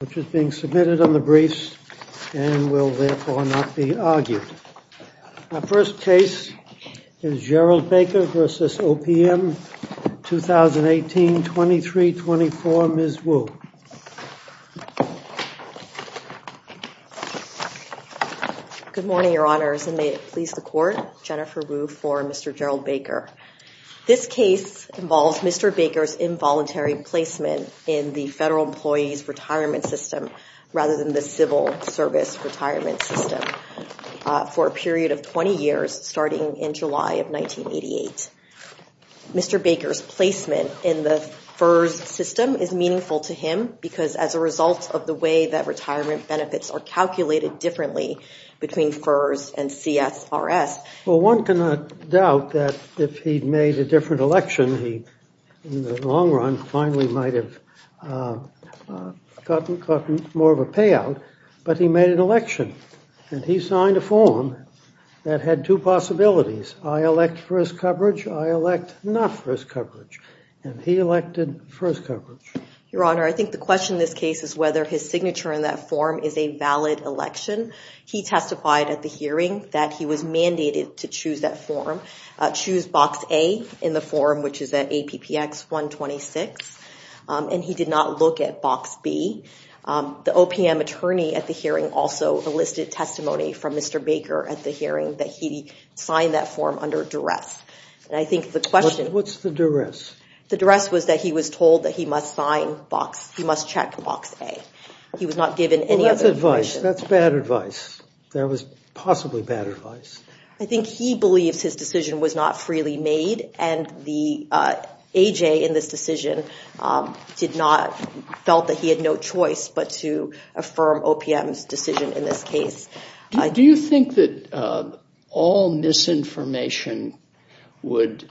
which is being submitted on the briefs and will therefore not be argued. Our first case is Gerald Baker v. OPM, 2018-23-24, Ms. Wu. Good morning, Your Honors, and may it please the Court, Jennifer Wu for Mr. Gerald Baker. This case involves Mr. Baker's involuntary placement in the Federal Employees Retirement System rather than the Civil Service Retirement System for a period of 20 years starting in July of 1988. Mr. Baker's placement in the FERS system is meaningful to him because as a result of the way that retirement benefits are calculated differently between FERS and CSRS. Well, one cannot doubt that if he'd made a different election, he in the long run finally might have gotten more of a payout. But he made an election, and he signed a form that had two possibilities. I elect first coverage, I elect not first coverage, and he elected first coverage. Your Honor, I think the question in this case is whether his signature in that form is a valid election. He testified at the hearing that he was mandated to choose that form, choose box A in the form, which is at APPX 126, and he did not look at box B. The OPM attorney at the hearing also enlisted testimony from Mr. Baker at the hearing that he signed that form under duress. And I think the question— What's the duress? The duress was that he was told that he must sign box—he must check box A. He was not given any other information. That's bad advice. That was possibly bad advice. I think he believes his decision was not freely made, and the A.J. in this decision did not—felt that he had no choice but to affirm OPM's decision in this case. Do you think that all misinformation regarding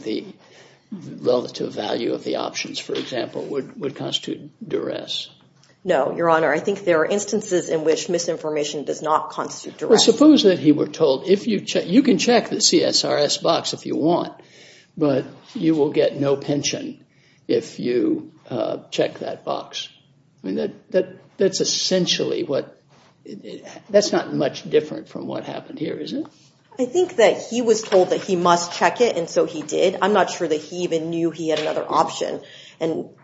the relative value of the options, for example, would constitute duress? No, Your Honor. I think there are instances in which misinformation does not constitute duress. Well, suppose that he were told, you can check the CSRS box if you want, but you will get no pension if you check that box. I mean, that's essentially what—that's not much different from what happened here, is it? I think that he was told that he must check it, and so he did. I'm not sure that he even knew he had another option.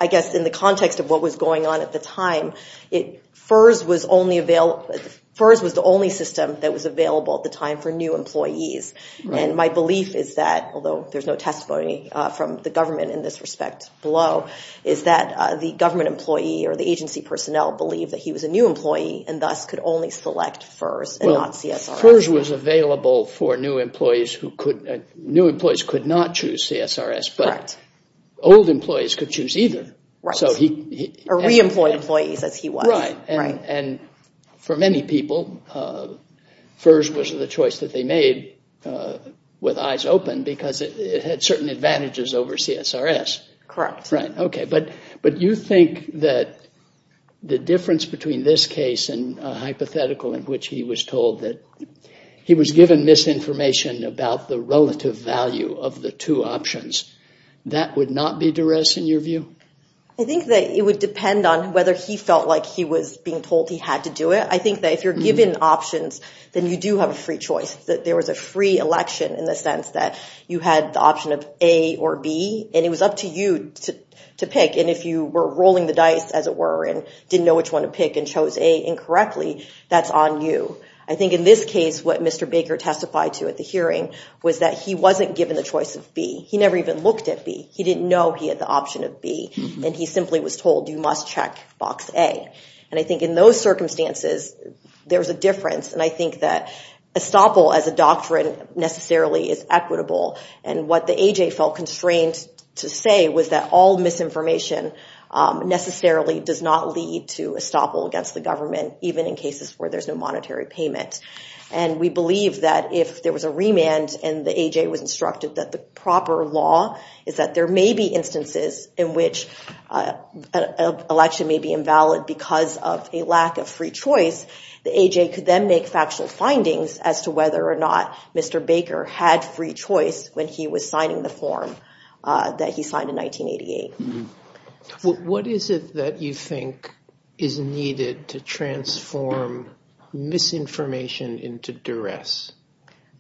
I guess in the context of what was going on at the time, FERS was the only system that was available at the time for new employees. My belief is that, although there's no testimony from the government in this respect below, is that the government employee or the agency personnel believed that he was a new employee and thus could only select FERS and not CSRS. FERS was available for new employees who could—new employees could not choose CSRS, but old employees could choose either. Or re-employed employees, as he was. Right, and for many people, FERS was the choice that they made with eyes open because it had certain advantages over CSRS. Correct. Right, okay, but you think that the difference between this case and a hypothetical in which he was told that he was given misinformation about the relative value of the two options, that would not be duress in your view? I think that it would depend on whether he felt like he was being told he had to do it. I think that if you're given options, then you do have a free choice. There was a free election in the sense that you had the option of A or B, and it was up to you to pick. And if you were rolling the dice, as it were, and didn't know which one to pick and chose A incorrectly, that's on you. I think in this case, what Mr. Baker testified to at the hearing was that he wasn't given the choice of B. He never even looked at B. He didn't know he had the option of B. And he simply was told, you must check box A. And I think in those circumstances, there's a difference. And I think that estoppel as a doctrine necessarily is equitable. And what the A.J. felt constrained to say was that all misinformation necessarily does not lead to estoppel against the government, even in cases where there's no monetary payment. And we believe that if there was a remand and the A.J. was instructed that the proper law is that there may be instances in which an election may be invalid because of a lack of free choice, the A.J. could then make factual findings as to whether or not Mr. Baker had free choice when he was signing the form that he signed in 1988. What is it that you think is needed to transform misinformation into duress?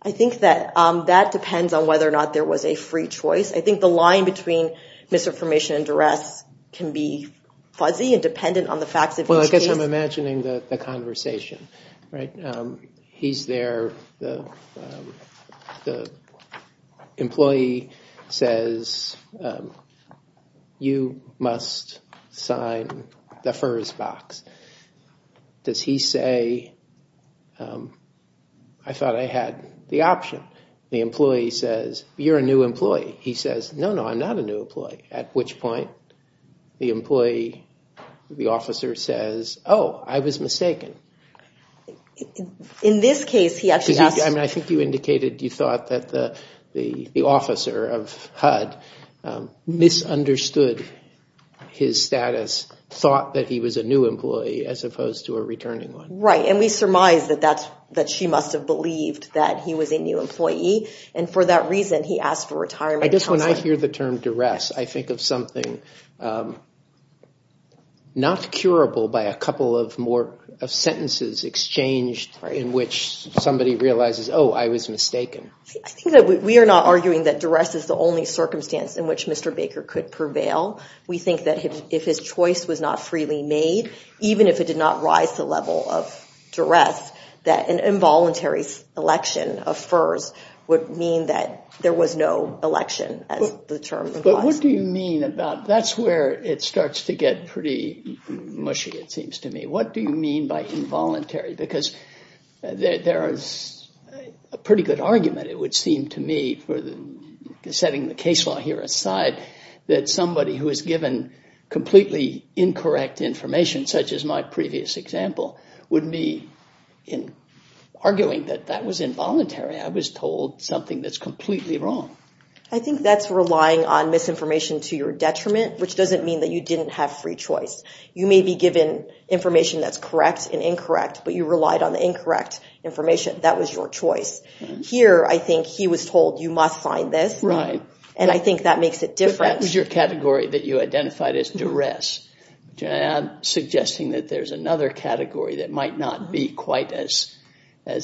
I think that that depends on whether or not there was a free choice. I think the line between misinformation and duress can be fuzzy and dependent on the facts of each case. Well, I guess I'm imagining the conversation, right? He's there. The employee says, you must sign the first box. Does he say, I thought I had the option? The employee says, you're a new employee. He says, no, no, I'm not a new employee. At which point the employee, the officer says, oh, I was mistaken. In this case, he actually asked. I mean, I think you indicated you thought that the officer of HUD misunderstood his status, thought that he was a new employee as opposed to a returning one. Right. And we surmise that she must have believed that he was a new employee. And for that reason, he asked for retirement. I guess when I hear the term duress, I think of something not curable by a couple of sentences exchanged in which somebody realizes, oh, I was mistaken. We are not arguing that duress is the only circumstance in which Mr. Baker could prevail. We think that if his choice was not freely made, even if it did not rise to the level of duress, that an involuntary election of FERS would mean that there was no election as the term implies. But what do you mean about that's where it starts to get pretty mushy, it seems to me. What do you mean by involuntary? Because there is a pretty good argument, it would seem to me, setting the case law here aside, that somebody who is given completely incorrect information, such as my previous example, would be arguing that that was involuntary. I was told something that's completely wrong. I think that's relying on misinformation to your detriment, which doesn't mean that you didn't have free choice. You may be given information that's correct and incorrect, but you relied on the incorrect information. That was your choice. Here, I think he was told you must find this, and I think that makes it different. That was your category that you identified as duress. I'm suggesting that there's another category that might not be quite as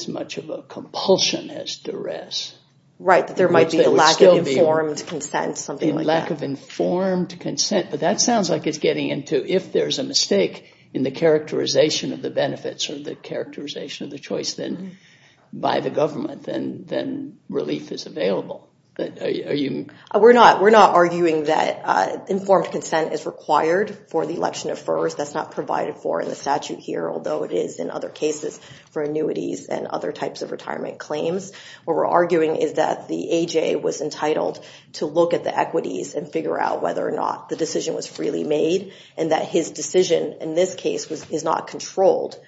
much of a compulsion as duress. Right, that there might be a lack of informed consent, something like that. Lack of informed consent, but that sounds like it's getting into if there's a mistake in the characterization of the benefits or the characterization of the choice by the government, then relief is available. We're not arguing that informed consent is required for the election at first. That's not provided for in the statute here, although it is in other cases for annuities and other types of retirement claims. What we're arguing is that the AJ was entitled to look at the equities and figure out whether or not the decision was freely made and that his decision in this case is not controlled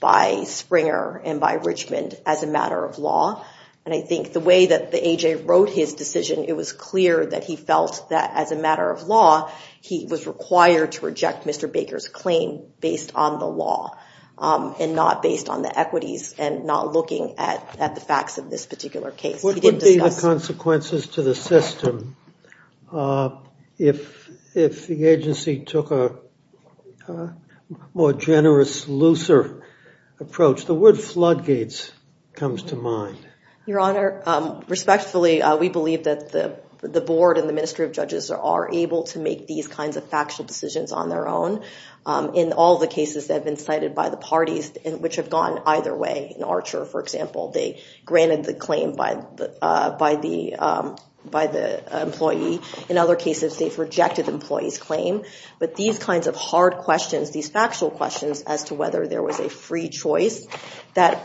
by Springer and by Richmond as a matter of law. I think the way that the AJ wrote his decision, it was clear that he felt that as a matter of law, he was required to reject Mr. Baker's claim based on the law and not based on the equities and not looking at the facts of this particular case. What would be the consequences to the system if the agency took a more generous, looser approach? The word floodgates comes to mind. Your Honor, respectfully, we believe that the board and the Ministry of Judges are able to make these kinds of factual decisions on their own. In all the cases that have been cited by the parties, which have gone either way, in Archer, for example, they granted the claim by the employee. In other cases, they've rejected the employee's claim. But these kinds of hard questions, these factual questions as to whether there was a free choice,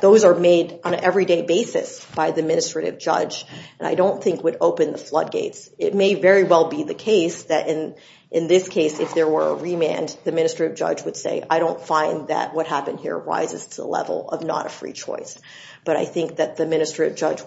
those are made on an everyday basis by the Administrative Judge and I don't think would open the floodgates. It may very well be the case that in this case, if there were a remand, the Administrative Judge would say, I don't find that what happened here rises to the level of not a free choice. But I think that the Administrative Judge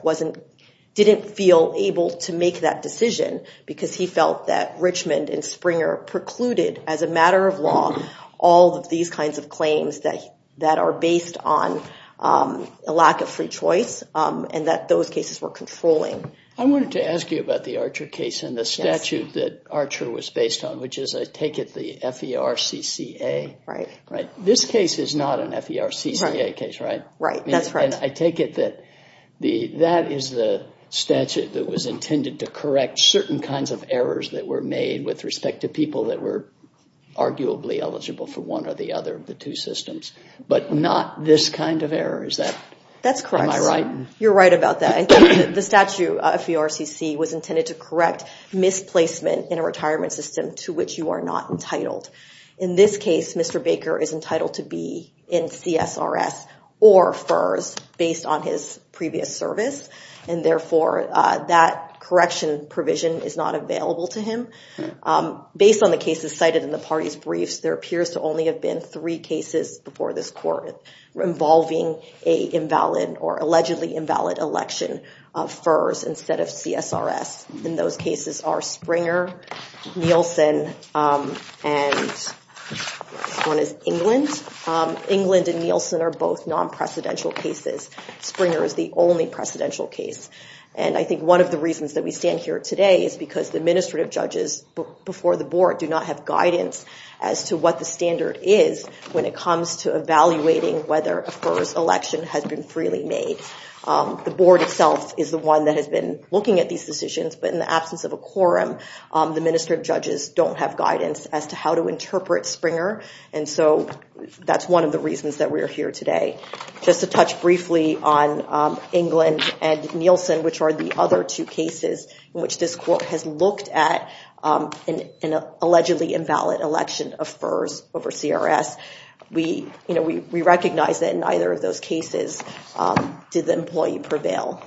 didn't feel able to make that decision because he felt that Richmond and Springer precluded, as a matter of law, all of these kinds of claims that are based on a lack of free choice and that those cases were controlling. I wanted to ask you about the Archer case and the statute that Archer was based on, which is, I take it, the FERCCA? Right. This case is not an FERCCA case, right? Right, that's right. I take it that that is the statute that was intended to correct certain kinds of errors that were made with respect to people that were arguably eligible for one or the other of the two systems, but not this kind of error. That's correct. Am I right? You're right about that. The statute of the RCC was intended to correct misplacement in a retirement system to which you are not entitled. In this case, Mr. Baker is entitled to be in CSRS or FERS based on his previous service, and therefore that correction provision is not available to him. Based on the cases cited in the party's briefs, there appears to only have been three cases before this court involving an invalid or allegedly invalid election of FERS instead of CSRS. Those cases are Springer, Nielsen, and England. England and Nielsen are both non-precedential cases. Springer is the only precedential case. I think one of the reasons that we stand here today is because the administrative judges before the board do not have guidance as to what the standard is when it comes to evaluating whether a FERS election has been freely made. The board itself is the one that has been looking at these decisions, but in the absence of a quorum, the administrative judges don't have guidance as to how to interpret Springer, and so that's one of the reasons that we are here today. Just to touch briefly on England and Nielsen, which are the other two cases in which this court has looked at an allegedly invalid election of FERS over CRS, we recognize that in neither of those cases did the employee prevail.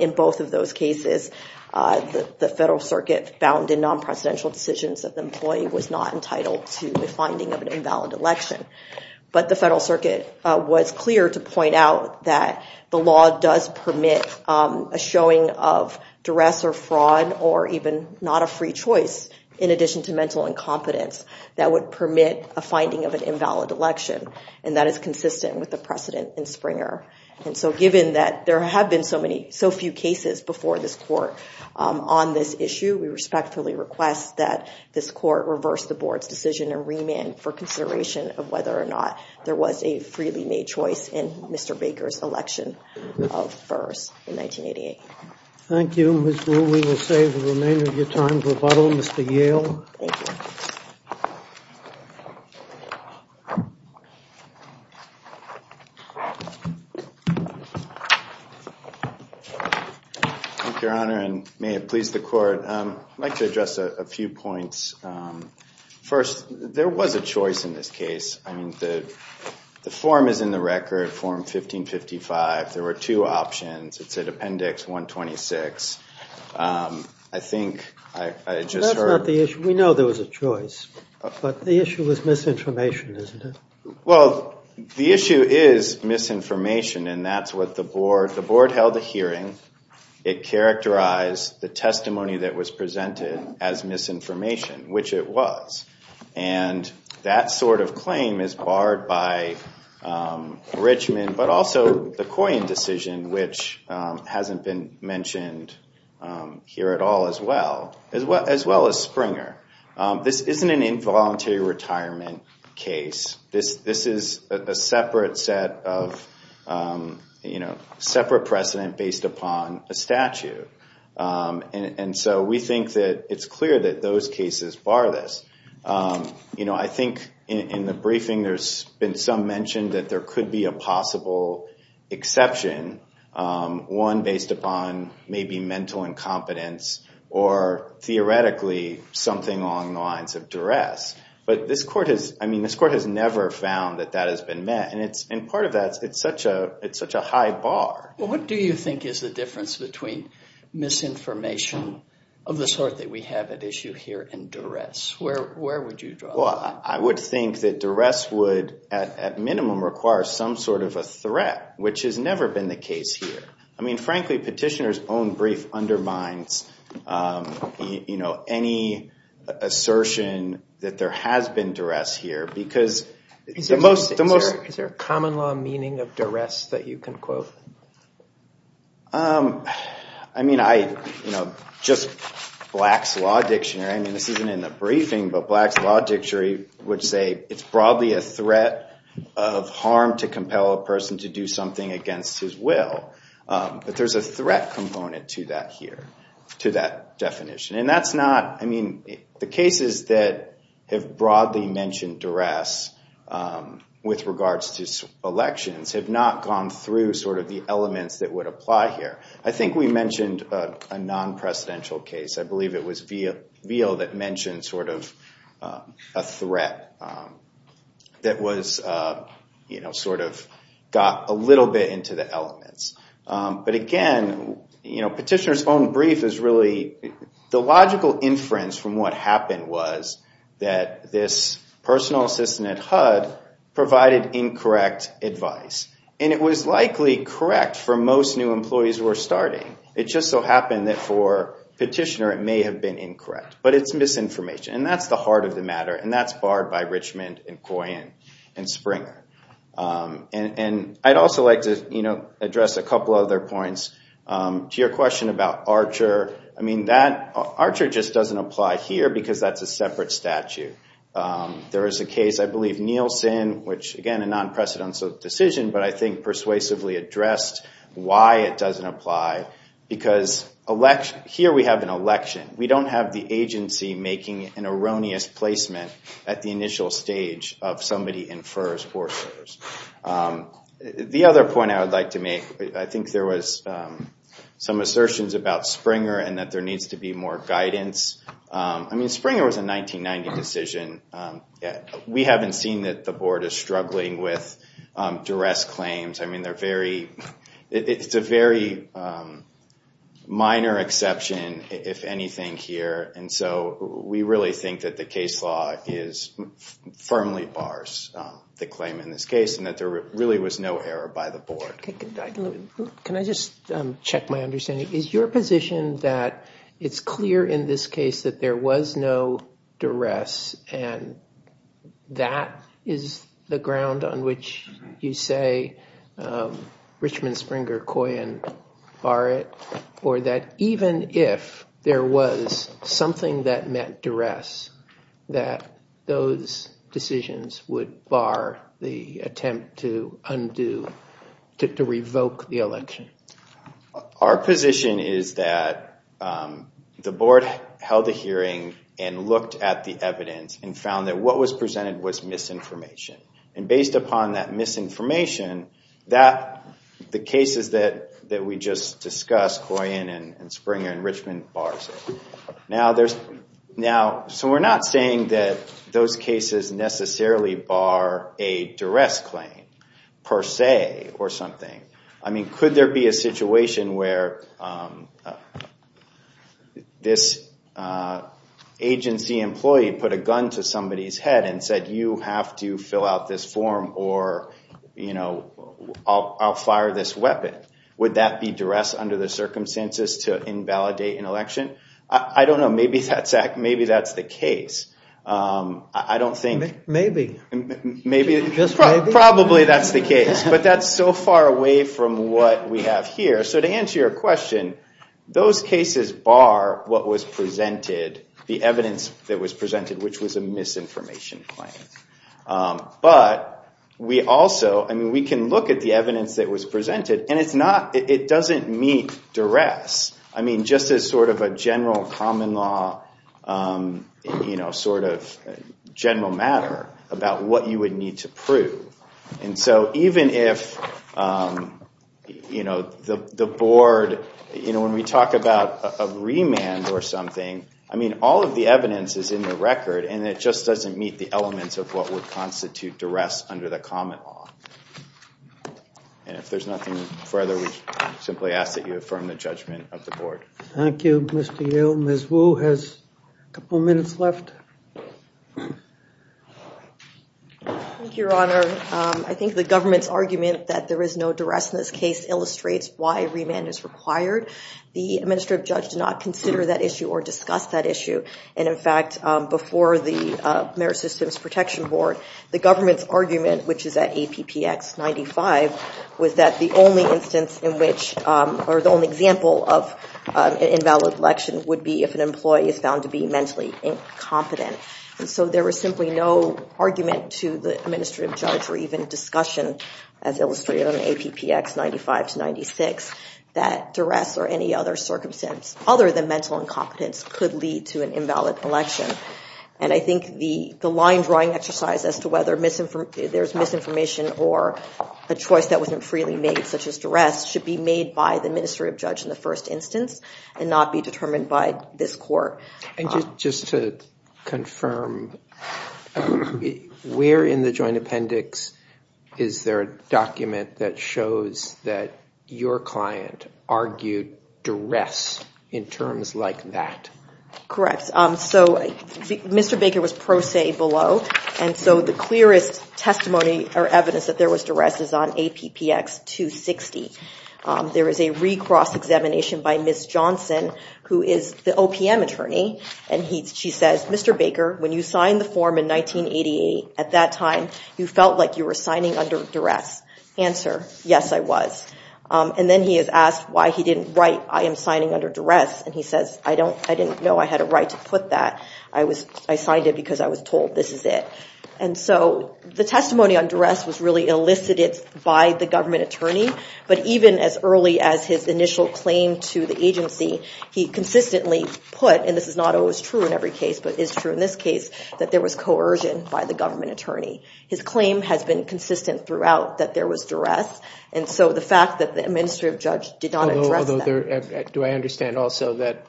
In both of those cases, the Federal Circuit found in non-precedential decisions that the employee was not entitled to the finding of an invalid election, but the Federal Circuit was clear to point out that the law does permit a showing of duress or fraud or even not a free choice in addition to mental incompetence that would permit a finding of an invalid election, and that is consistent with the precedent in Springer. And so given that there have been so few cases before this court on this issue, we respectfully request that this court reverse the board's decision and remand for consideration of whether or not there was a freely made choice in Mr. Baker's election of FERS in 1988. Thank you, Ms. Ruehl. We will save the remainder of your time for rebuttal. Mr. Yale. Thank you. Thank you, Your Honor, and may it please the court. I'd like to address a few points. First, there was a choice in this case. I mean, the form is in the record, Form 1555. There were two options. It said Appendix 126. I think I just heard – That's not the issue. We know there was a choice, but the issue was misinformation, isn't it? Well, the issue is misinformation, and that's what the board – the board held a hearing. It characterized the testimony that was presented as misinformation, which it was. And that sort of claim is barred by Richmond, but also the Coyne decision, which hasn't been mentioned here at all as well, as well as Springer. This isn't an involuntary retirement case. This is a separate set of – you know, separate precedent based upon a statute. And so we think that it's clear that those cases bar this. You know, I think in the briefing, there's been some mention that there could be a possible exception, one based upon maybe mental incompetence or theoretically something along the lines of duress. But this court has – I mean, this court has never found that that has been met. And part of that, it's such a high bar. Well, what do you think is the difference between misinformation of the sort that we have at issue here and duress? Where would you draw that? Well, I would think that duress would at minimum require some sort of a threat, which has never been the case here. I mean, frankly, Petitioner's own brief undermines, you know, any assertion that there has been duress here because the most – Is there a common law meaning of duress that you can quote? I mean, I – you know, just Black's Law Dictionary, I mean, this isn't in the briefing, but Black's Law Dictionary would say it's broadly a threat of harm to compel a person to do something against his will. But there's a threat component to that here, to that definition. And that's not – I mean, the cases that have broadly mentioned duress with regards to elections have not gone through sort of the elements that would apply here. I think we mentioned a non-presidential case. I believe it was Veal that mentioned sort of a threat that was, you know, sort of got a little bit into the elements. But again, you know, Petitioner's own brief is really – the logical inference from what happened was that this personal assistant at HUD provided incorrect advice. And it was likely correct for most new employees who were starting. It just so happened that for Petitioner it may have been incorrect. But it's misinformation. And that's the heart of the matter, and that's barred by Richmond and Coyen and Springer. And I'd also like to, you know, address a couple other points. To your question about Archer, I mean, that – Archer just doesn't apply here because that's a separate statute. There is a case, I believe, Nielsen, which, again, a non-presidential decision, but I think persuasively addressed why it doesn't apply. Because here we have an election. We don't have the agency making an erroneous placement at the initial stage of somebody infers or defers. The other point I would like to make, I think there was some assertions about Springer and that there needs to be more guidance. I mean, Springer was a 1990 decision. We haven't seen that the Board is struggling with duress claims. I mean, they're very – it's a very minor exception, if anything, here. And so we really think that the case law firmly bars the claim in this case and that there really was no error by the Board. Can I just check my understanding? Is your position that it's clear in this case that there was no duress and that is the ground on which you say Richmond, Springer, Coyen bar it? Or that even if there was something that meant duress, that those decisions would bar the attempt to undo – to revoke the election? Our position is that the Board held a hearing and looked at the evidence and found that what was presented was misinformation. And based upon that misinformation, the cases that we just discussed, Coyen and Springer and Richmond, bars it. Now, so we're not saying that those cases necessarily bar a duress claim, per se, or something. I mean, could there be a situation where this agency employee put a gun to somebody's head and said, you have to fill out this form or I'll fire this weapon. Would that be duress under the circumstances to invalidate an election? I don't know. Maybe that's the case. I don't think – Maybe. Maybe. Probably that's the case. But that's so far away from what we have here. So to answer your question, those cases bar what was presented, the evidence that was presented, which was a misinformation claim. But we also – I mean, we can look at the evidence that was presented, and it's not – it doesn't meet duress. I mean, just as sort of a general common law, you know, sort of general matter about what you would need to prove. And so even if, you know, the board – you know, when we talk about a remand or something, I mean, all of the evidence is in the record, and it just doesn't meet the elements of what would constitute duress under the common law. And if there's nothing further, we simply ask that you affirm the judgment of the board. Thank you, Mr. Yale. Ms. Wu has a couple minutes left. Thank you, Your Honor. I think the government's argument that there is no duress in this case illustrates why remand is required. The administrative judge did not consider that issue or discuss that issue. And, in fact, before the Merit Systems Protection Board, the government's argument, which is at APPX 95, was that the only instance in which – or the only example of an invalid election would be if an employee is found to be mentally incompetent. And so there was simply no argument to the administrative judge or even discussion, as illustrated on APPX 95 to 96, that duress or any other circumstance other than mental incompetence could lead to an invalid election. And I think the line-drawing exercise as to whether there's misinformation or a choice that wasn't freely made, such as duress, should be made by the administrative judge in the first instance and not be determined by this court. And just to confirm, where in the joint appendix is there a document that shows that your client argued duress in terms like that? Correct. So Mr. Baker was pro se below, and so the clearest testimony or evidence that there was duress is on APPX 260. There is a recross examination by Ms. Johnson, who is the OPM attorney, and she says, Mr. Baker, when you signed the form in 1988, at that time you felt like you were signing under duress. Answer, yes, I was. And then he is asked why he didn't write, I am signing under duress, and he says, I didn't know I had a right to put that. I signed it because I was told this is it. And so the testimony on duress was really elicited by the government attorney. But even as early as his initial claim to the agency, he consistently put, and this is not always true in every case, but is true in this case, that there was coercion by the government attorney. His claim has been consistent throughout that there was duress, and so the fact that the administrative judge did not address that. Do I understand also that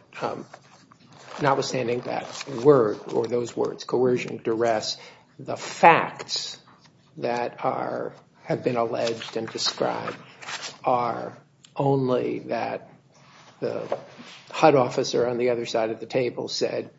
notwithstanding that word or those words, coercion, duress, the facts that have been alleged and described are only that the HUD officer on the other side of the table said,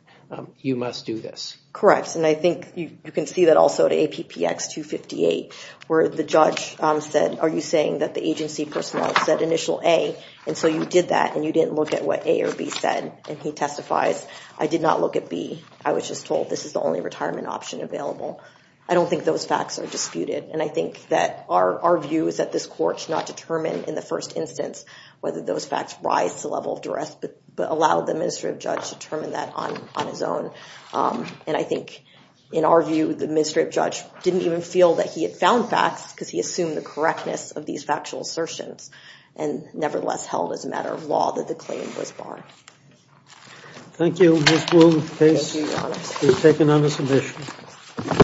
you must do this? Correct, and I think you can see that also at APPX 258, where the judge said, are you saying that the agency personnel said initial A, and so you did that, and you didn't look at what A or B said, and he testifies, I did not look at B. I was just told this is the only retirement option available. I don't think those facts are disputed, and I think that our view is that this court should not determine in the first instance whether those facts rise to the level of duress, but allow the administrative judge to determine that on his own. And I think in our view, the administrative judge didn't even feel that he had found facts because he assumed the correctness of these factual assertions and nevertheless held as a matter of law that the claim was barred. Thank you. This will be taken on a submission.